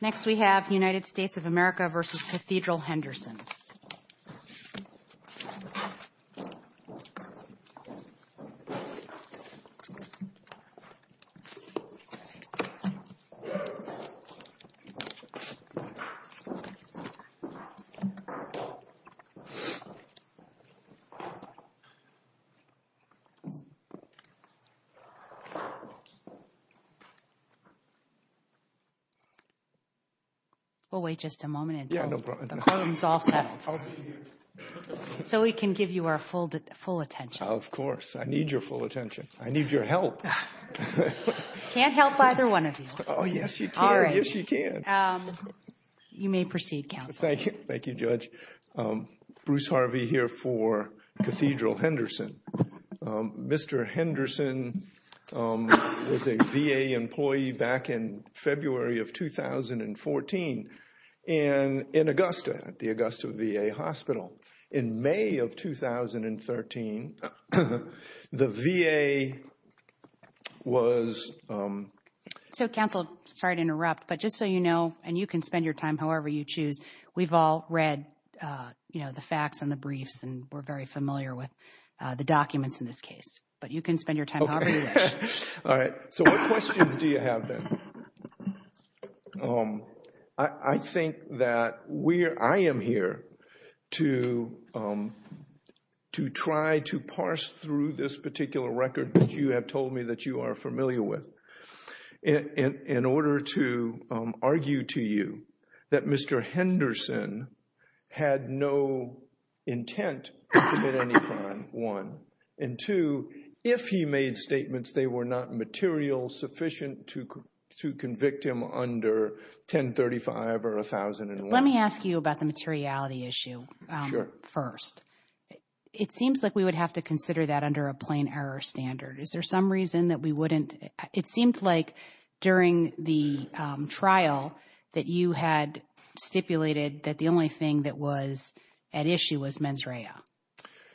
Next we have United States of America v. Cathedral Henderson We'll wait just a moment until the quorum is all set. So we can give you our full attention. Of course. I need your full attention. I need your help. I can't help either one of you. Oh, yes you can. Yes you can. You may proceed, counsel. Thank you, Judge. Bruce Harvey here for Cathedral Henderson. Mr. Henderson was a V.A. employee back in February of 2014 in Augusta at the Augusta V.A. Hospital. In May of 2013, the V.A. was... So, counsel, sorry to interrupt, but just so you know, and you can spend your time however you choose, we've all read the facts and the briefs and we're very familiar with the documents in this case. But you can spend your time however you wish. All right. So what questions do you have then? I think that I am here to try to parse through this particular record that you have told me that you are familiar with in order to argue to you that Mr. Henderson had no intent to commit any crime, one. And two, if he made statements, they were not material sufficient to convict him under 1035 or 1001. Let me ask you about the materiality issue first. It seems like we would have to consider that under a plain error standard. Is there some reason that we wouldn't? It seemed like during the trial that you had stipulated that the only thing that was at issue was mens rea.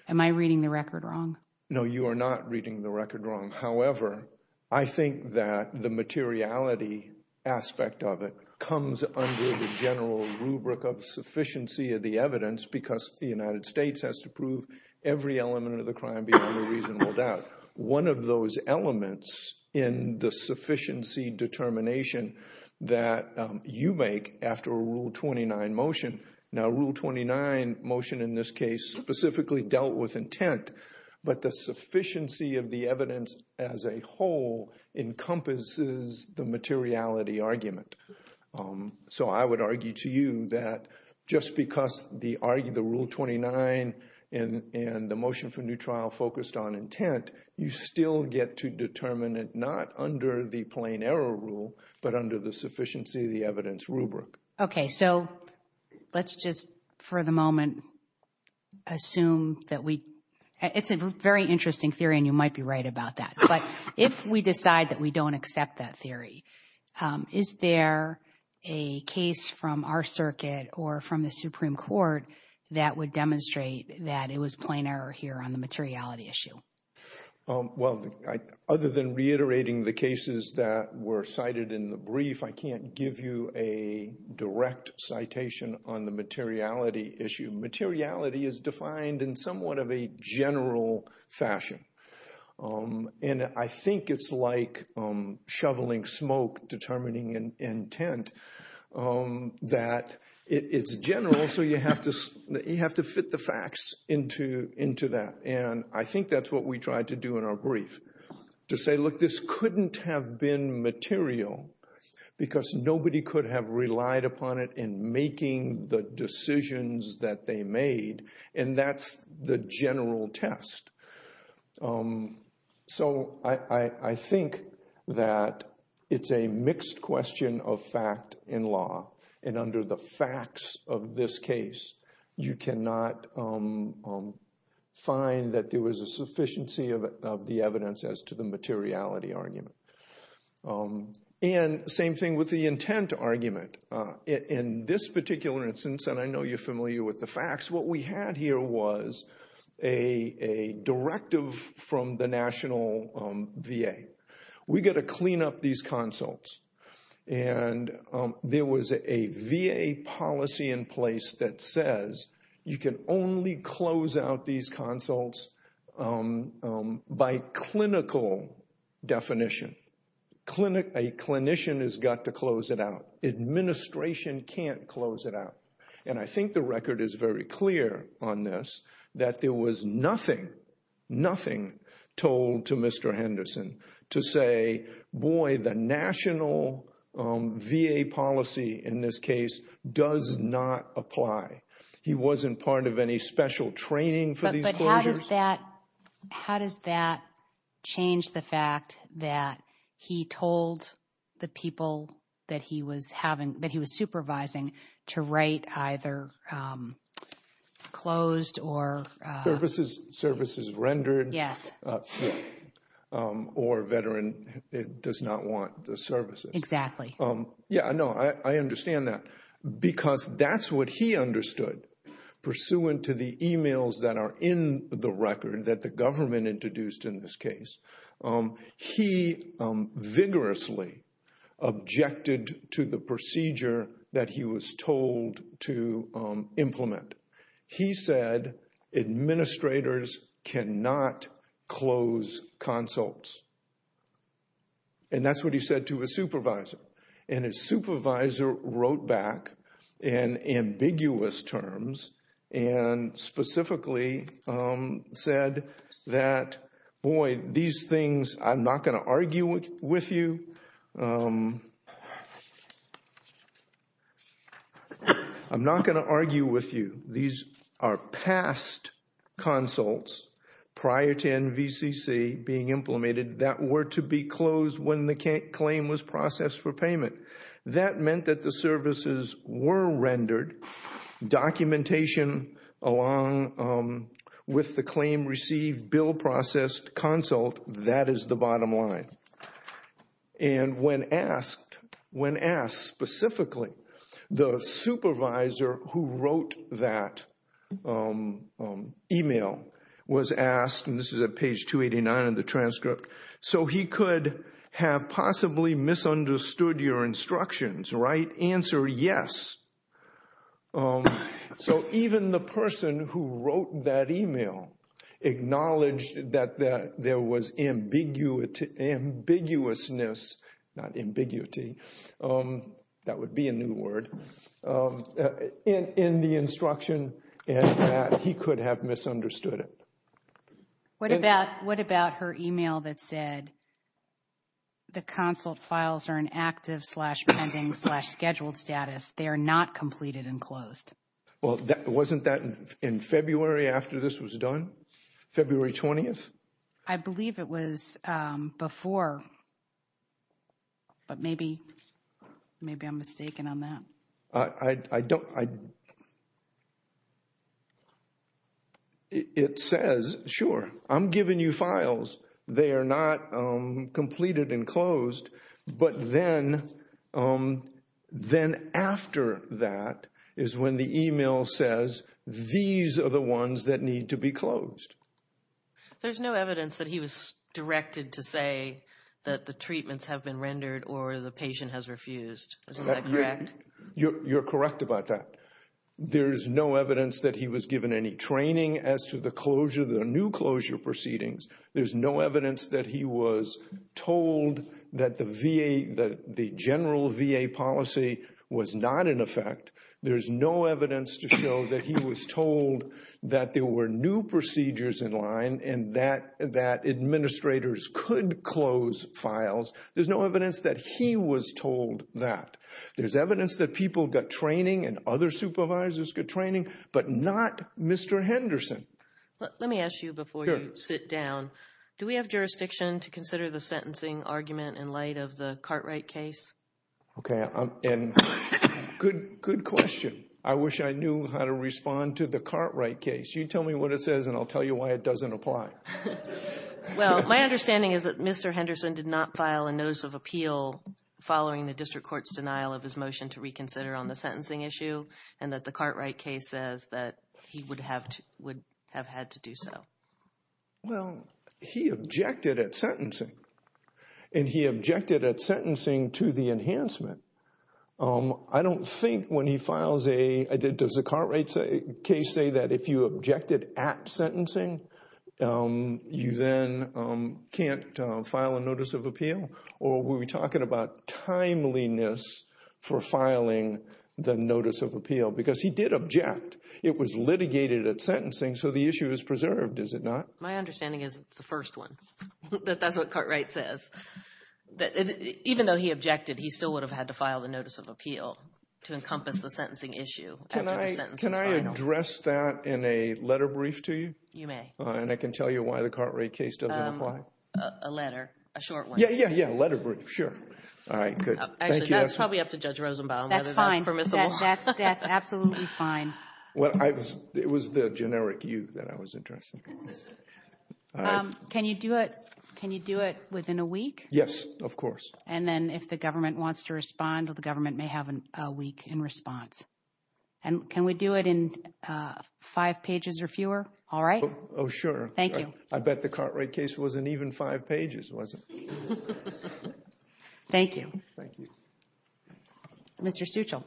Am I reading the record wrong? No, you are not reading the record wrong. However, I think that the materiality aspect of it comes under the general rubric of sufficiency of the evidence because the United States has to prove every element of the crime beyond a reasonable doubt. One of those elements in the sufficiency determination that you make after a Rule 29 motion, now Rule 29 motion in this case specifically dealt with intent, but the sufficiency of the evidence as a whole encompasses the materiality argument. So I would argue to you that just because the Rule 29 and the motion for new trial focused on intent, you still get to determine it not under the plain error rule, but under the sufficiency of the evidence rubric. Okay, so let's just for the moment assume that we... It's a very interesting theory and you might be right about that. But if we decide that we don't accept that theory, is there a case from our circuit or from the Supreme Court that would demonstrate that it was plain error here on the materiality issue? Well, other than reiterating the cases that were cited in the brief, I can't give you a direct citation on the materiality issue. Materiality is defined in somewhat of a general fashion. And I think it's like shoveling smoke, determining intent, that it's general. So you have to fit the facts into that. And I think that's what we tried to do in our brief, to say, look, this couldn't have been material because nobody could have relied upon it in making the decisions that they made. And that's the general test. So I think that it's a mixed question of fact in law. And under the facts of this case, you cannot find that there was a sufficiency of the evidence as to the materiality argument. And same thing with the intent argument. In this particular instance, and I know you're familiar with the facts, what we had here was a directive from the National VA. We've got to clean up these consults. And there was a VA policy in place that says you can only close out these consults by clinical definition. A clinician has got to close it out. Administration can't close it out. And I think the record is very clear on this, that there was nothing, nothing told to Mr. Henderson to say, boy, the National VA policy in this case does not apply. He wasn't part of any special training for these closures. How does that change the fact that he told the people that he was supervising to write either closed or- Services rendered. Yes. Or a veteran does not want the services. Exactly. Yeah, no, I understand that because that's what he understood. Pursuant to the emails that are in the record that the government introduced in this case, he vigorously objected to the procedure that he was told to implement. He said administrators cannot close consults. And that's what he said to his supervisor. And his supervisor wrote back in ambiguous terms and specifically said that, boy, these things, I'm not going to argue with you. I'm not going to argue with you. These are past consults prior to NVCC being implemented that were to be closed when the claim was processed for payment. That meant that the services were rendered. Documentation along with the claim received, bill processed, consult, that is the bottom line. And when asked, when asked specifically, the supervisor who wrote that email was asked, and this is at page 289 of the transcript, so he could have possibly misunderstood your instructions, right? Answer, yes. So even the person who wrote that email acknowledged that there was ambiguousness, not ambiguity, that would be a new word, in the instruction and that he could have misunderstood it. What about her email that said the consult files are in active slash pending slash scheduled status? They are not completed and closed. Well, wasn't that in February after this was done? February 20th? I believe it was before, but maybe I'm mistaken on that. I don't, I, it says, sure, I'm giving you files. They are not completed and closed. But then, then after that is when the email says these are the ones that need to be closed. There's no evidence that he was directed to say that the treatments have been rendered or the patient has refused. Isn't that correct? You're correct about that. There's no evidence that he was given any training as to the closure, the new closure proceedings. There's no evidence that he was told that the VA, that the general VA policy was not in effect. There's no evidence to show that he was told that there were new procedures in line and that, that administrators could close files. There's no evidence that he was told that. There's evidence that people got training and other supervisors got training, but not Mr. Henderson. Let me ask you before you sit down. Do we have jurisdiction to consider the sentencing argument in light of the Cartwright case? Okay, and good, good question. I wish I knew how to respond to the Cartwright case. You tell me what it says and I'll tell you why it doesn't apply. Well, my understanding is that Mr. Henderson did not file a notice of appeal following the district court's denial of his motion to reconsider on the sentencing issue and that the Cartwright case says that he would have had to do so. Well, he objected at sentencing, and he objected at sentencing to the enhancement. I don't think when he files a, does the Cartwright case say that if you objected at sentencing, you then can't file a notice of appeal? Or were we talking about timeliness for filing the notice of appeal? Because he did object. It was litigated at sentencing, so the issue is preserved, is it not? My understanding is it's the first one, that that's what Cartwright says. Even though he objected, he still would have had to file the notice of appeal to encompass the sentencing issue. Can I address that in a letter brief to you? You may. And I can tell you why the Cartwright case doesn't apply. A letter, a short one. Yeah, yeah, yeah, a letter brief, sure. All right, good. Actually, that's probably up to Judge Rosenbaum whether that's permissible. That's fine. That's absolutely fine. It was the generic you that I was interested in. Can you do it within a week? Yes, of course. And then if the government wants to respond, the government may have a week in response. And can we do it in five pages or fewer? All right. Oh, sure. Thank you. I bet the Cartwright case wasn't even five pages, was it? Thank you. Thank you. Mr. Stuchel.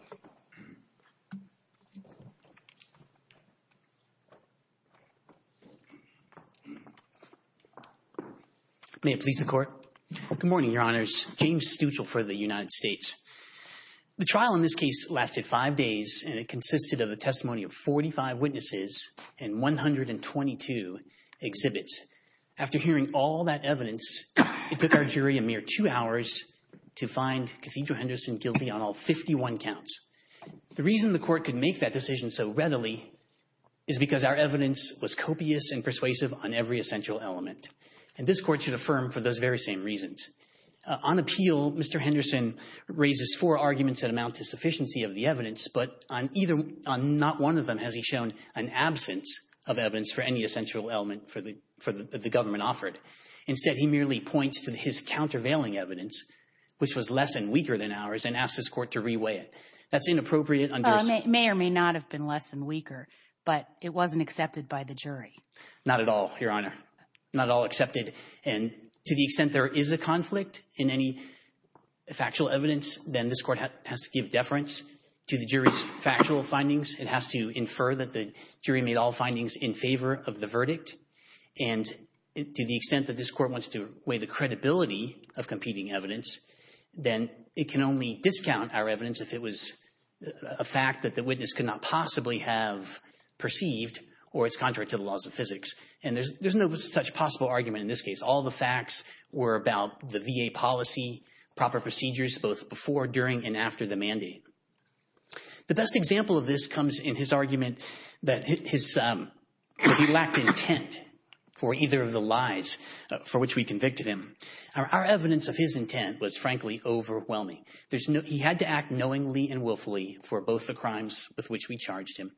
May it please the Court. Good morning, Your Honors. James Stuchel for the United States. The trial in this case lasted five days, and it consisted of a testimony of 45 witnesses and 122 exhibits. After hearing all that evidence, it took our jury a mere two hours to find Cathedral Henderson guilty on all 51 counts. The reason the Court could make that decision so readily is because our evidence was copious and persuasive on every essential element, and this Court should affirm for those very same reasons. On appeal, Mr. Henderson raises four arguments that amount to sufficiency of the evidence, but on not one of them has he shown an absence of evidence for any essential element for the government offered. Instead, he merely points to his countervailing evidence, which was less and weaker than ours, and asks this Court to reweigh it. That's inappropriate. May or may not have been less and weaker, but it wasn't accepted by the jury. Not at all, Your Honor. Not at all accepted, and to the extent there is a conflict in any factual evidence, then this Court has to give deference to the jury's factual findings. It has to infer that the jury made all findings in favor of the verdict, and to the extent that this Court wants to weigh the credibility of competing evidence, then it can only discount our evidence if it was a fact that the witness could not possibly have perceived or it's contrary to the laws of physics, and there's no such possible argument in this case. All the facts were about the VA policy, proper procedures, both before, during, and after the mandate. The best example of this comes in his argument that he lacked intent for either of the lies for which we convicted him. Our evidence of his intent was, frankly, overwhelming. He had to act knowingly and willfully for both the crimes with which we charged him.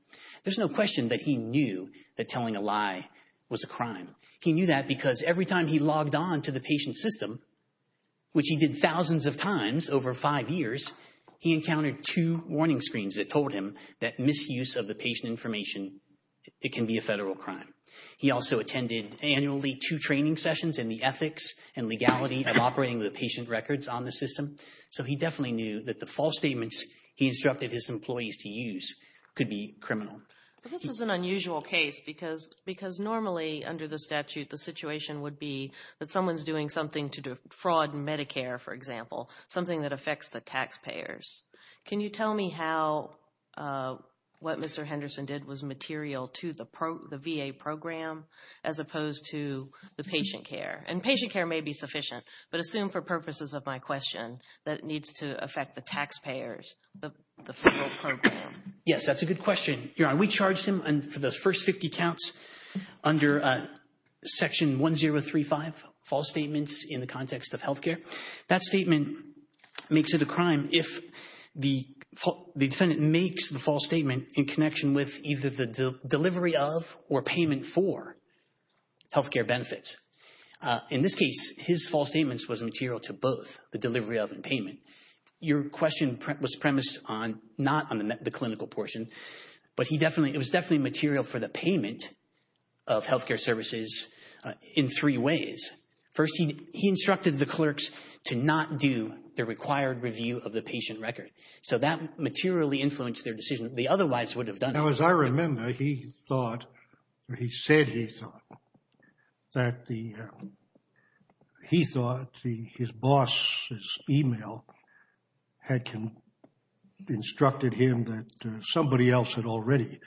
There's no question that he knew that telling a lie was a crime. He knew that because every time he logged on to the patient system, which he did thousands of times over five years, he encountered two warning screens that told him that misuse of the patient information, it can be a federal crime. He also attended annually two training sessions in the ethics and legality of operating the patient records on the system. So he definitely knew that the false statements he instructed his employees to use could be criminal. This is an unusual case because normally under the statute the situation would be that someone's doing something to defraud Medicare, for example, something that affects the taxpayers. Can you tell me how what Mr. Henderson did was material to the VA program as opposed to the patient care? And patient care may be sufficient, but assume for purposes of my question that it needs to affect the taxpayers, the federal program. Yes, that's a good question. We charged him for those first 50 counts under Section 1035, false statements in the context of health care. That statement makes it a crime if the defendant makes the false statement in connection with either the delivery of or payment for health care benefits. In this case, his false statements was material to both the delivery of and payment. Your question was premised on not on the clinical portion, but it was definitely material for the payment of health care services in three ways. First, he instructed the clerks to not do the required review of the patient record. So that materially influenced their decision. They otherwise would have done it. Now, as I remember, he thought, or he said he thought, that he thought his boss's email had instructed him that somebody else had already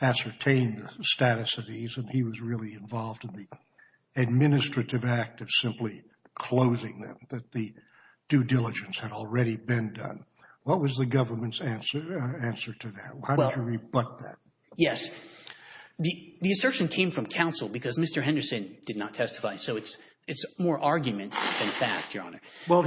ascertained the status of these and he was really involved in the administrative act of simply closing them, that the due diligence had already been done. What was the government's answer to that? How did you rebut that? Yes. The assertion came from counsel because Mr. Henderson did not testify. So it's more argument than fact, Your Honor. Well,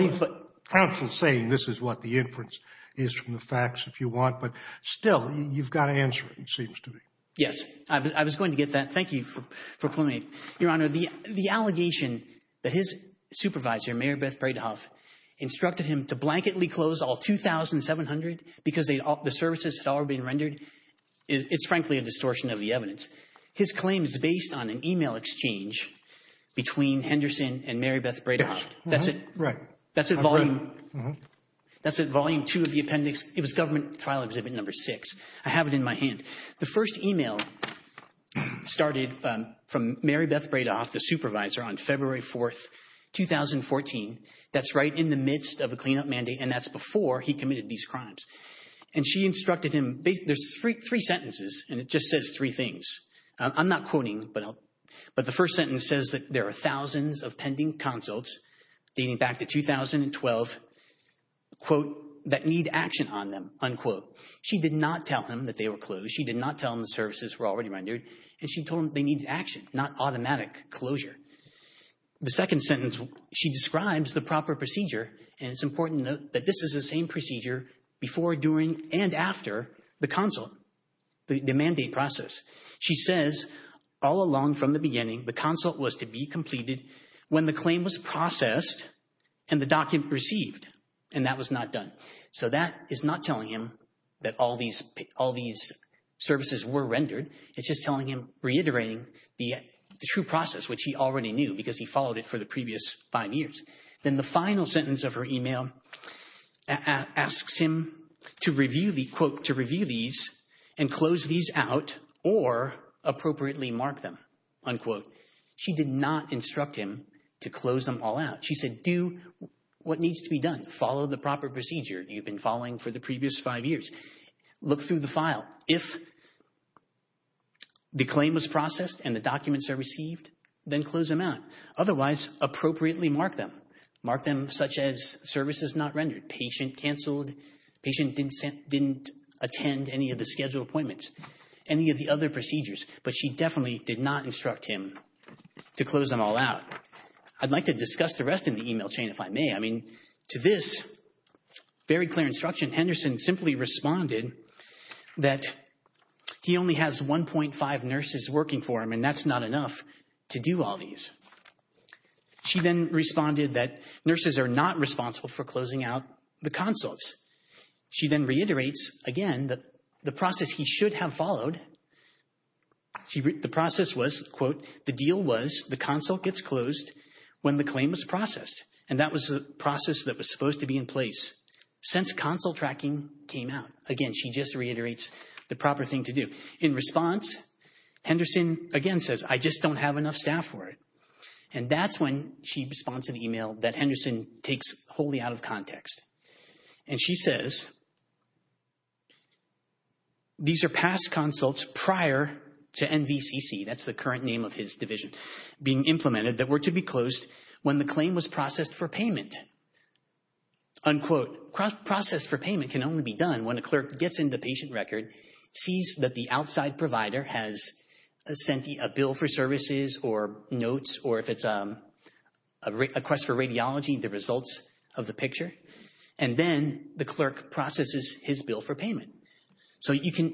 counsel is saying this is what the inference is from the facts, if you want. But still, you've got to answer it, it seems to me. Yes. I was going to get that. Thank you for pointing. Your Honor, the allegation that his supervisor, Mary Beth Bredehoft, instructed him to blanketly close all 2,700 because the services had already been rendered, it's frankly a distortion of the evidence. His claim is based on an email exchange between Henderson and Mary Beth Bredehoft. That's it. Right. That's at Volume 2 of the appendix. It was Government Trial Exhibit No. 6. I have it in my hand. The first email started from Mary Beth Bredehoft, the supervisor, on February 4, 2014. That's right in the midst of a cleanup mandate, and that's before he committed these crimes. And she instructed him. There's three sentences, and it just says three things. I'm not quoting, but the first sentence says that there are thousands of pending consults dating back to 2012, quote, that need action on them, unquote. She did not tell him that they were closed. She did not tell him the services were already rendered. And she told him they needed action, not automatic closure. The second sentence, she describes the proper procedure, and it's important to note that this is the same procedure before, during, and after the consult, the mandate process. She says, all along from the beginning, the consult was to be completed when the claim was processed and the document received, and that was not done. So that is not telling him that all these services were rendered. It's just telling him, reiterating the true process, which he already knew, because he followed it for the previous five years. Then the final sentence of her email asks him to review the, quote, to review these and close these out or appropriately mark them, unquote. She did not instruct him to close them all out. She said, do what needs to be done. Follow the proper procedure you've been following for the previous five years. Look through the file. If the claim was processed and the documents are received, then close them out. Otherwise, appropriately mark them. Mark them such as services not rendered, patient canceled, patient didn't attend any of the scheduled appointments, any of the other procedures. But she definitely did not instruct him to close them all out. I'd like to discuss the rest in the email chain, if I may. I mean, to this very clear instruction, Henderson simply responded that he only has 1.5 nurses working for him and that's not enough to do all these. She then responded that nurses are not responsible for closing out the consults. She then reiterates, again, the process he should have followed. The process was, quote, the deal was the consult gets closed when the claim is processed. And that was the process that was supposed to be in place since consult tracking came out. Again, she just reiterates the proper thing to do. In response, Henderson again says, I just don't have enough staff for it. And that's when she responds to the email that Henderson takes wholly out of context. And she says, these are past consults prior to NVCC, that's the current name of his division, being implemented that were to be closed when the claim was processed for payment. Unquote. Process for payment can only be done when a clerk gets into the patient record, sees that the outside provider has sent a bill for services or notes or if it's a request for radiology, the results of the picture, and then the clerk processes his bill for payment. So you can,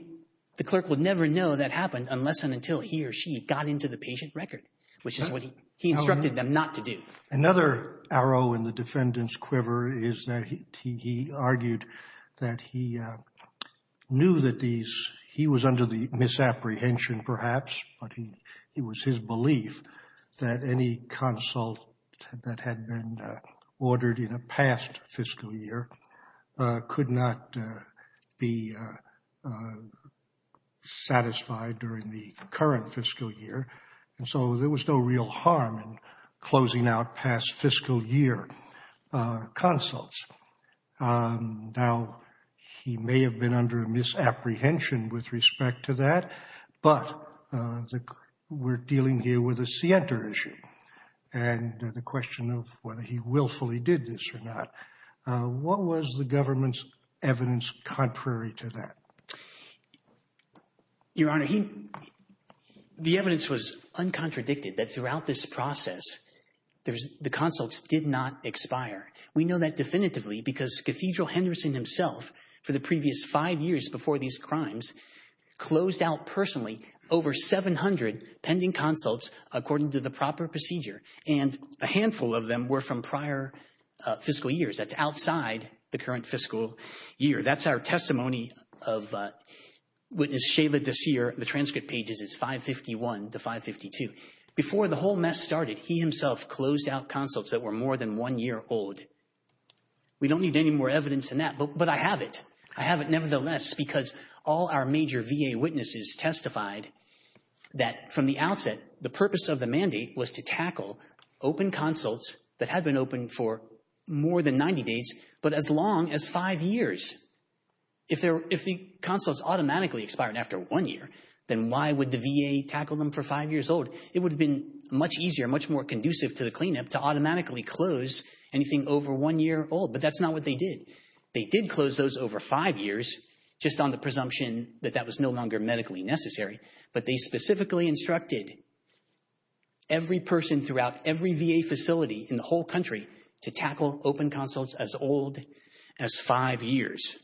the clerk would never know that happened unless and until he or she got into the patient record, which is what he instructed them not to do. Another arrow in the defendant's quiver is that he argued that he knew that these, he was under the misapprehension perhaps, but it was his belief that any consult that had been ordered in a past fiscal year could not be satisfied during the current fiscal year. And so there was no real harm in closing out past fiscal year consults. Now, he may have been under a misapprehension with respect to that, but we're dealing here with a Sienta issue and the question of whether he willfully did this or not. What was the government's evidence contrary to that? Your Honor, the evidence was uncontradicted that throughout this process, the consults did not expire. We know that definitively because Cathedral Henderson himself, for the previous five years before these crimes, closed out personally over 700 pending consults according to the proper procedure, and a handful of them were from prior fiscal years. That's outside the current fiscal year. That's our testimony of Witness Shayla Desir. The transcript page is 551 to 552. Before the whole mess started, he himself closed out consults that were more than one year old. We don't need any more evidence than that, but I have it. I have it nevertheless because all our major VA witnesses testified that from the outset, the purpose of the mandate was to tackle open consults that had been open for more than 90 days, but as long as five years. If the consults automatically expired after one year, then why would the VA tackle them for five years old? It would have been much easier, much more conducive to the cleanup to automatically close anything over one year old, but that's not what they did. They did close those over five years just on the presumption that that was no longer medically necessary, but they specifically instructed every person throughout every VA facility in the whole country to tackle open consults as old as five years.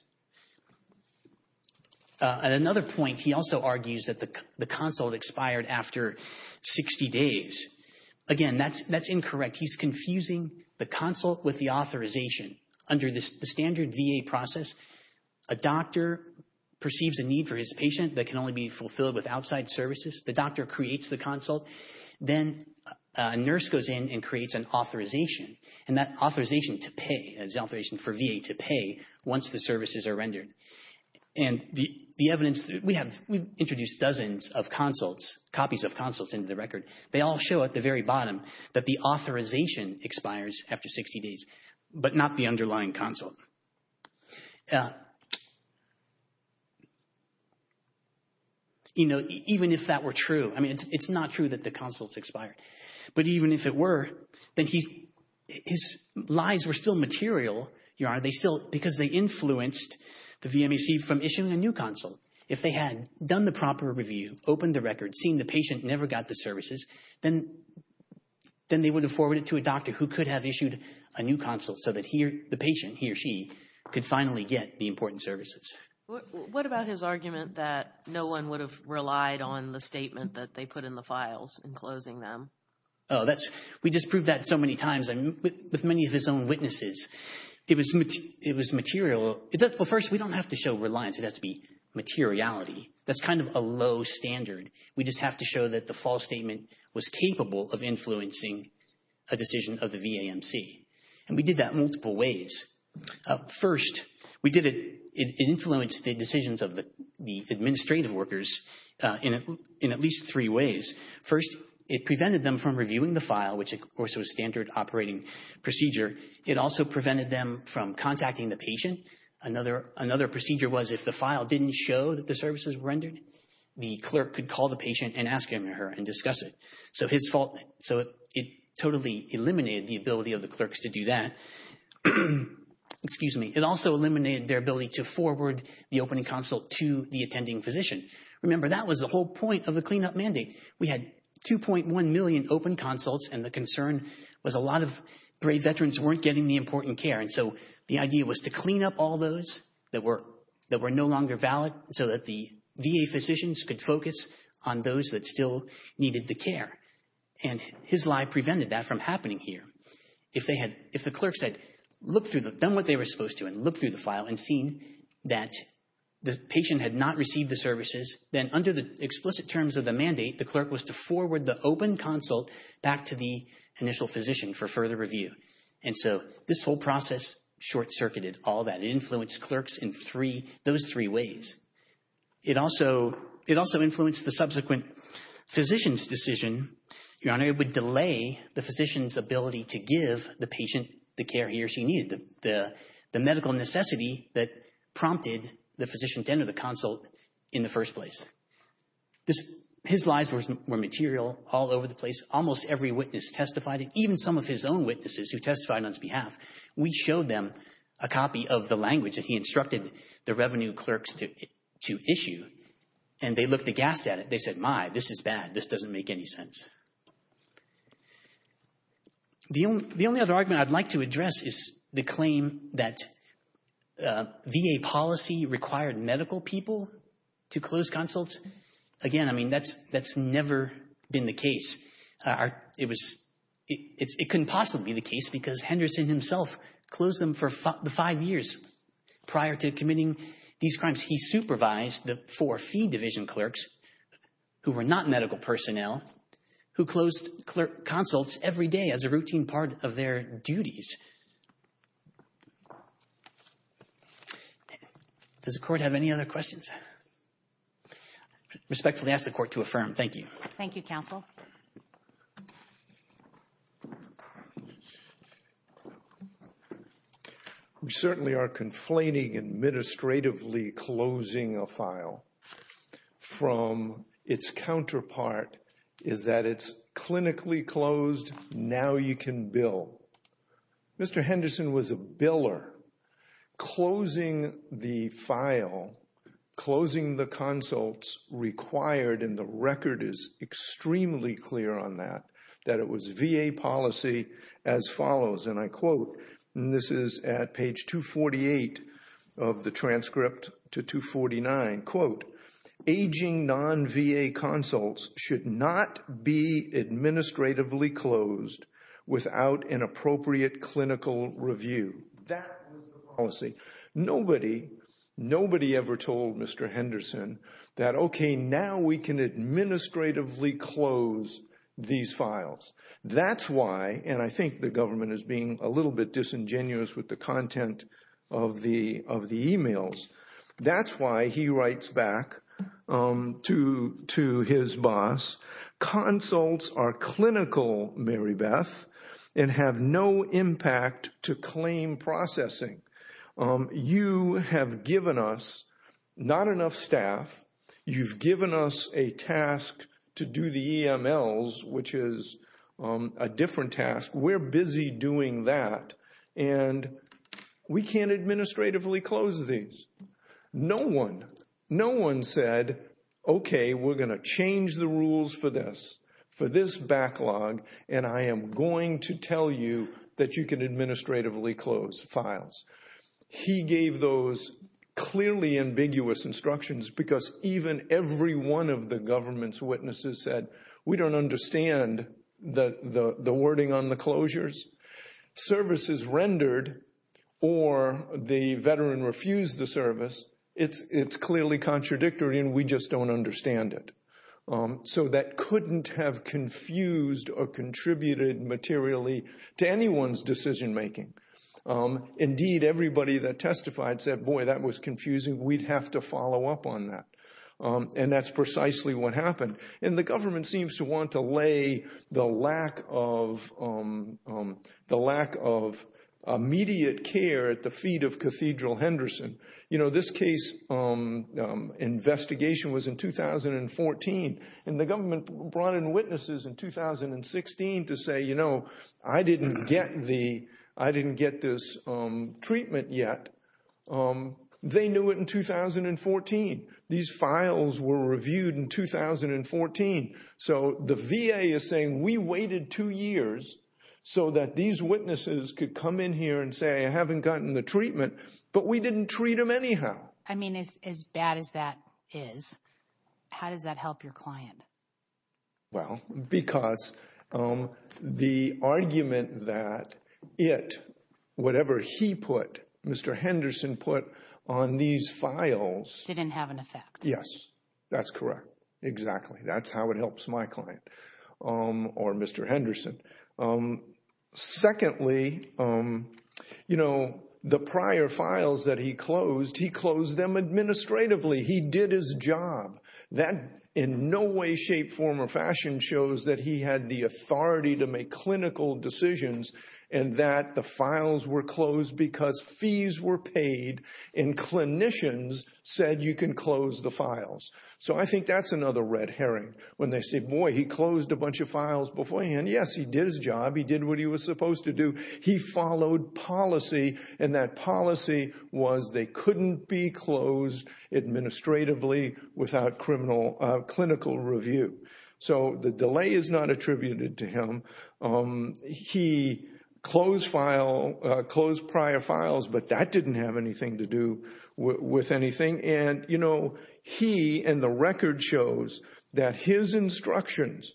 At another point, he also argues that the consult expired after 60 days. Again, that's incorrect. He's confusing the consult with the authorization. Under the standard VA process, a doctor perceives a need for his patient that can only be fulfilled with outside services. The doctor creates the consult. Then a nurse goes in and creates an authorization, and that authorization to pay is an authorization for VA to pay once the services are rendered. And the evidence that we have, we've introduced dozens of consults, copies of consults into the record. They all show at the very bottom that the authorization expires after 60 days, but not the underlying consult. You know, even if that were true, I mean, it's not true that the consults expired, but even if it were, then his lies were still material, because they influenced the VMAC from issuing a new consult. If they had done the proper review, opened the record, seen the patient, never got the services, then they would have forwarded it to a doctor who could have issued a new consult so that the patient, he or she, could finally get the important services. What about his argument that no one would have relied on the statement that they put in the files in closing them? Oh, that's, we just proved that so many times. I mean, with many of his own witnesses, it was material. Well, first, we don't have to show reliance. It has to be materiality. That's kind of a low standard. We just have to show that the false statement was capable of influencing a decision of the VAMC. And we did that multiple ways. First, we did it, it influenced the decisions of the administrative workers in at least three ways. First, it prevented them from reviewing the file, which, of course, was standard operating procedure. It also prevented them from contacting the patient. Another procedure was if the file didn't show that the services were rendered, the clerk could call the patient and ask him or her and discuss it. So his fault, so it totally eliminated the ability of the clerks to do that. Excuse me. It also eliminated their ability to forward the opening consult to the attending physician. Remember, that was the whole point of the cleanup mandate. We had 2.1 million open consults, and the concern was a lot of brave veterans weren't getting the important care. And so the idea was to clean up all those that were no longer valid so that the VA physicians could focus on those that still needed the care. And his lie prevented that from happening here. If the clerks had done what they were supposed to and looked through the file and seen that the patient had not received the services, then under the explicit terms of the mandate, the clerk was to forward the open consult back to the initial physician for further review. And so this whole process short-circuited all that. It influenced clerks in those three ways. It also influenced the subsequent physician's decision, Your Honor. It would delay the physician's ability to give the patient the care he or she needed, the medical necessity that prompted the physician to enter the consult in the first place. His lies were material all over the place. Almost every witness testified, even some of his own witnesses who testified on his behalf. We showed them a copy of the language that he instructed the revenue clerks to issue, and they looked aghast at it. They said, my, this is bad. This doesn't make any sense. The only other argument I'd like to address is the claim that VA policy required medical people to close consults. Again, I mean, that's never been the case. It couldn't possibly be the case because Henderson himself closed them for five years prior to committing these crimes. He supervised the four fee division clerks, who were not medical personnel, who closed consults every day as a routine part of their duties. Does the Court have any other questions? Respectfully ask the Court to affirm. Thank you. Thank you, Counsel. We certainly are conflating administratively closing a file from its counterpart is that it's clinically closed. Now you can bill. Mr. Henderson was a biller. Closing the file, closing the consults required, and the record is extremely clear on that, that it was VA policy as follows, and I quote, and this is at page 248 of the transcript to 249, quote, non-VA consults should not be administratively closed without an appropriate clinical review. That was the policy. Nobody, nobody ever told Mr. Henderson that, okay, now we can administratively close these files. That's why, and I think the government is being a little bit disingenuous with the content of the emails, that's why he writes back to his boss, consults are clinical, Mary Beth, and have no impact to claim processing. You have given us not enough staff. You've given us a task to do the EMLs, which is a different task. We're busy doing that, and we can't administratively close these. No one, no one said, okay, we're going to change the rules for this, for this backlog, and I am going to tell you that you can administratively close files. He gave those clearly ambiguous instructions because even every one of the government's witnesses said, we don't understand the wording on the closures. Service is rendered or the veteran refused the service. It's clearly contradictory, and we just don't understand it. So that couldn't have confused or contributed materially to anyone's decision making. Indeed, everybody that testified said, boy, that was confusing. We'd have to follow up on that, and that's precisely what happened. And the government seems to want to lay the lack of immediate care at the feet of Cathedral Henderson. You know, this case investigation was in 2014, and the government brought in witnesses in 2016 to say, you know, I didn't get this treatment yet. They knew it in 2014. These files were reviewed in 2014. So the VA is saying, we waited two years so that these witnesses could come in here and say, I haven't gotten the treatment, but we didn't treat them anyhow. I mean, as bad as that is, how does that help your client? Well, because the argument that it, whatever he put, Mr. Henderson put on these files. Didn't have an effect. Yes, that's correct. Exactly. That's how it helps my client or Mr. Henderson. Secondly, you know, the prior files that he closed, he closed them administratively. He did his job. That in no way, shape, form or fashion shows that he had the authority to make clinical decisions and that the files were closed because fees were paid and clinicians said you can close the files. So I think that's another red herring. When they say, boy, he closed a bunch of files beforehand. Yes, he did his job. He did what he was supposed to do. He followed policy and that policy was they couldn't be closed administratively without criminal clinical review. So the delay is not attributed to him. He closed file, closed prior files, but that didn't have anything to do with anything. And, you know, he and the record shows that his instructions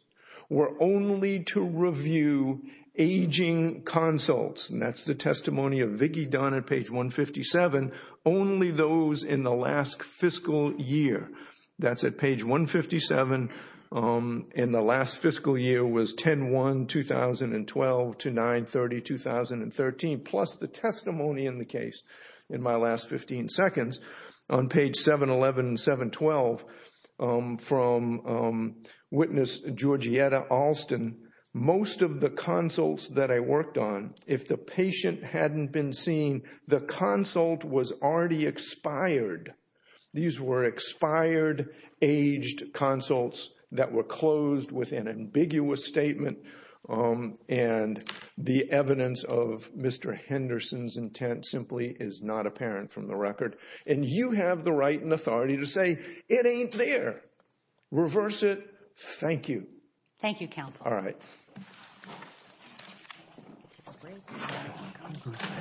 were only to review aging consults. And that's the testimony of Vicky Dunn at page 157. Only those in the last fiscal year. That's at page 157. And the last fiscal year was 10-1-2012 to 9-30-2013. Plus the testimony in the case in my last 15 seconds on page 711 and 712 from witness Georgietta Alston. Most of the consults that I worked on, if the patient hadn't been seen, the consult was already expired. These were expired, aged consults that were closed with an ambiguous statement. And the evidence of Mr. Henderson's intent simply is not apparent from the record. And you have the right and authority to say it ain't there. Reverse it. Thank you. Thank you, counsel. All right.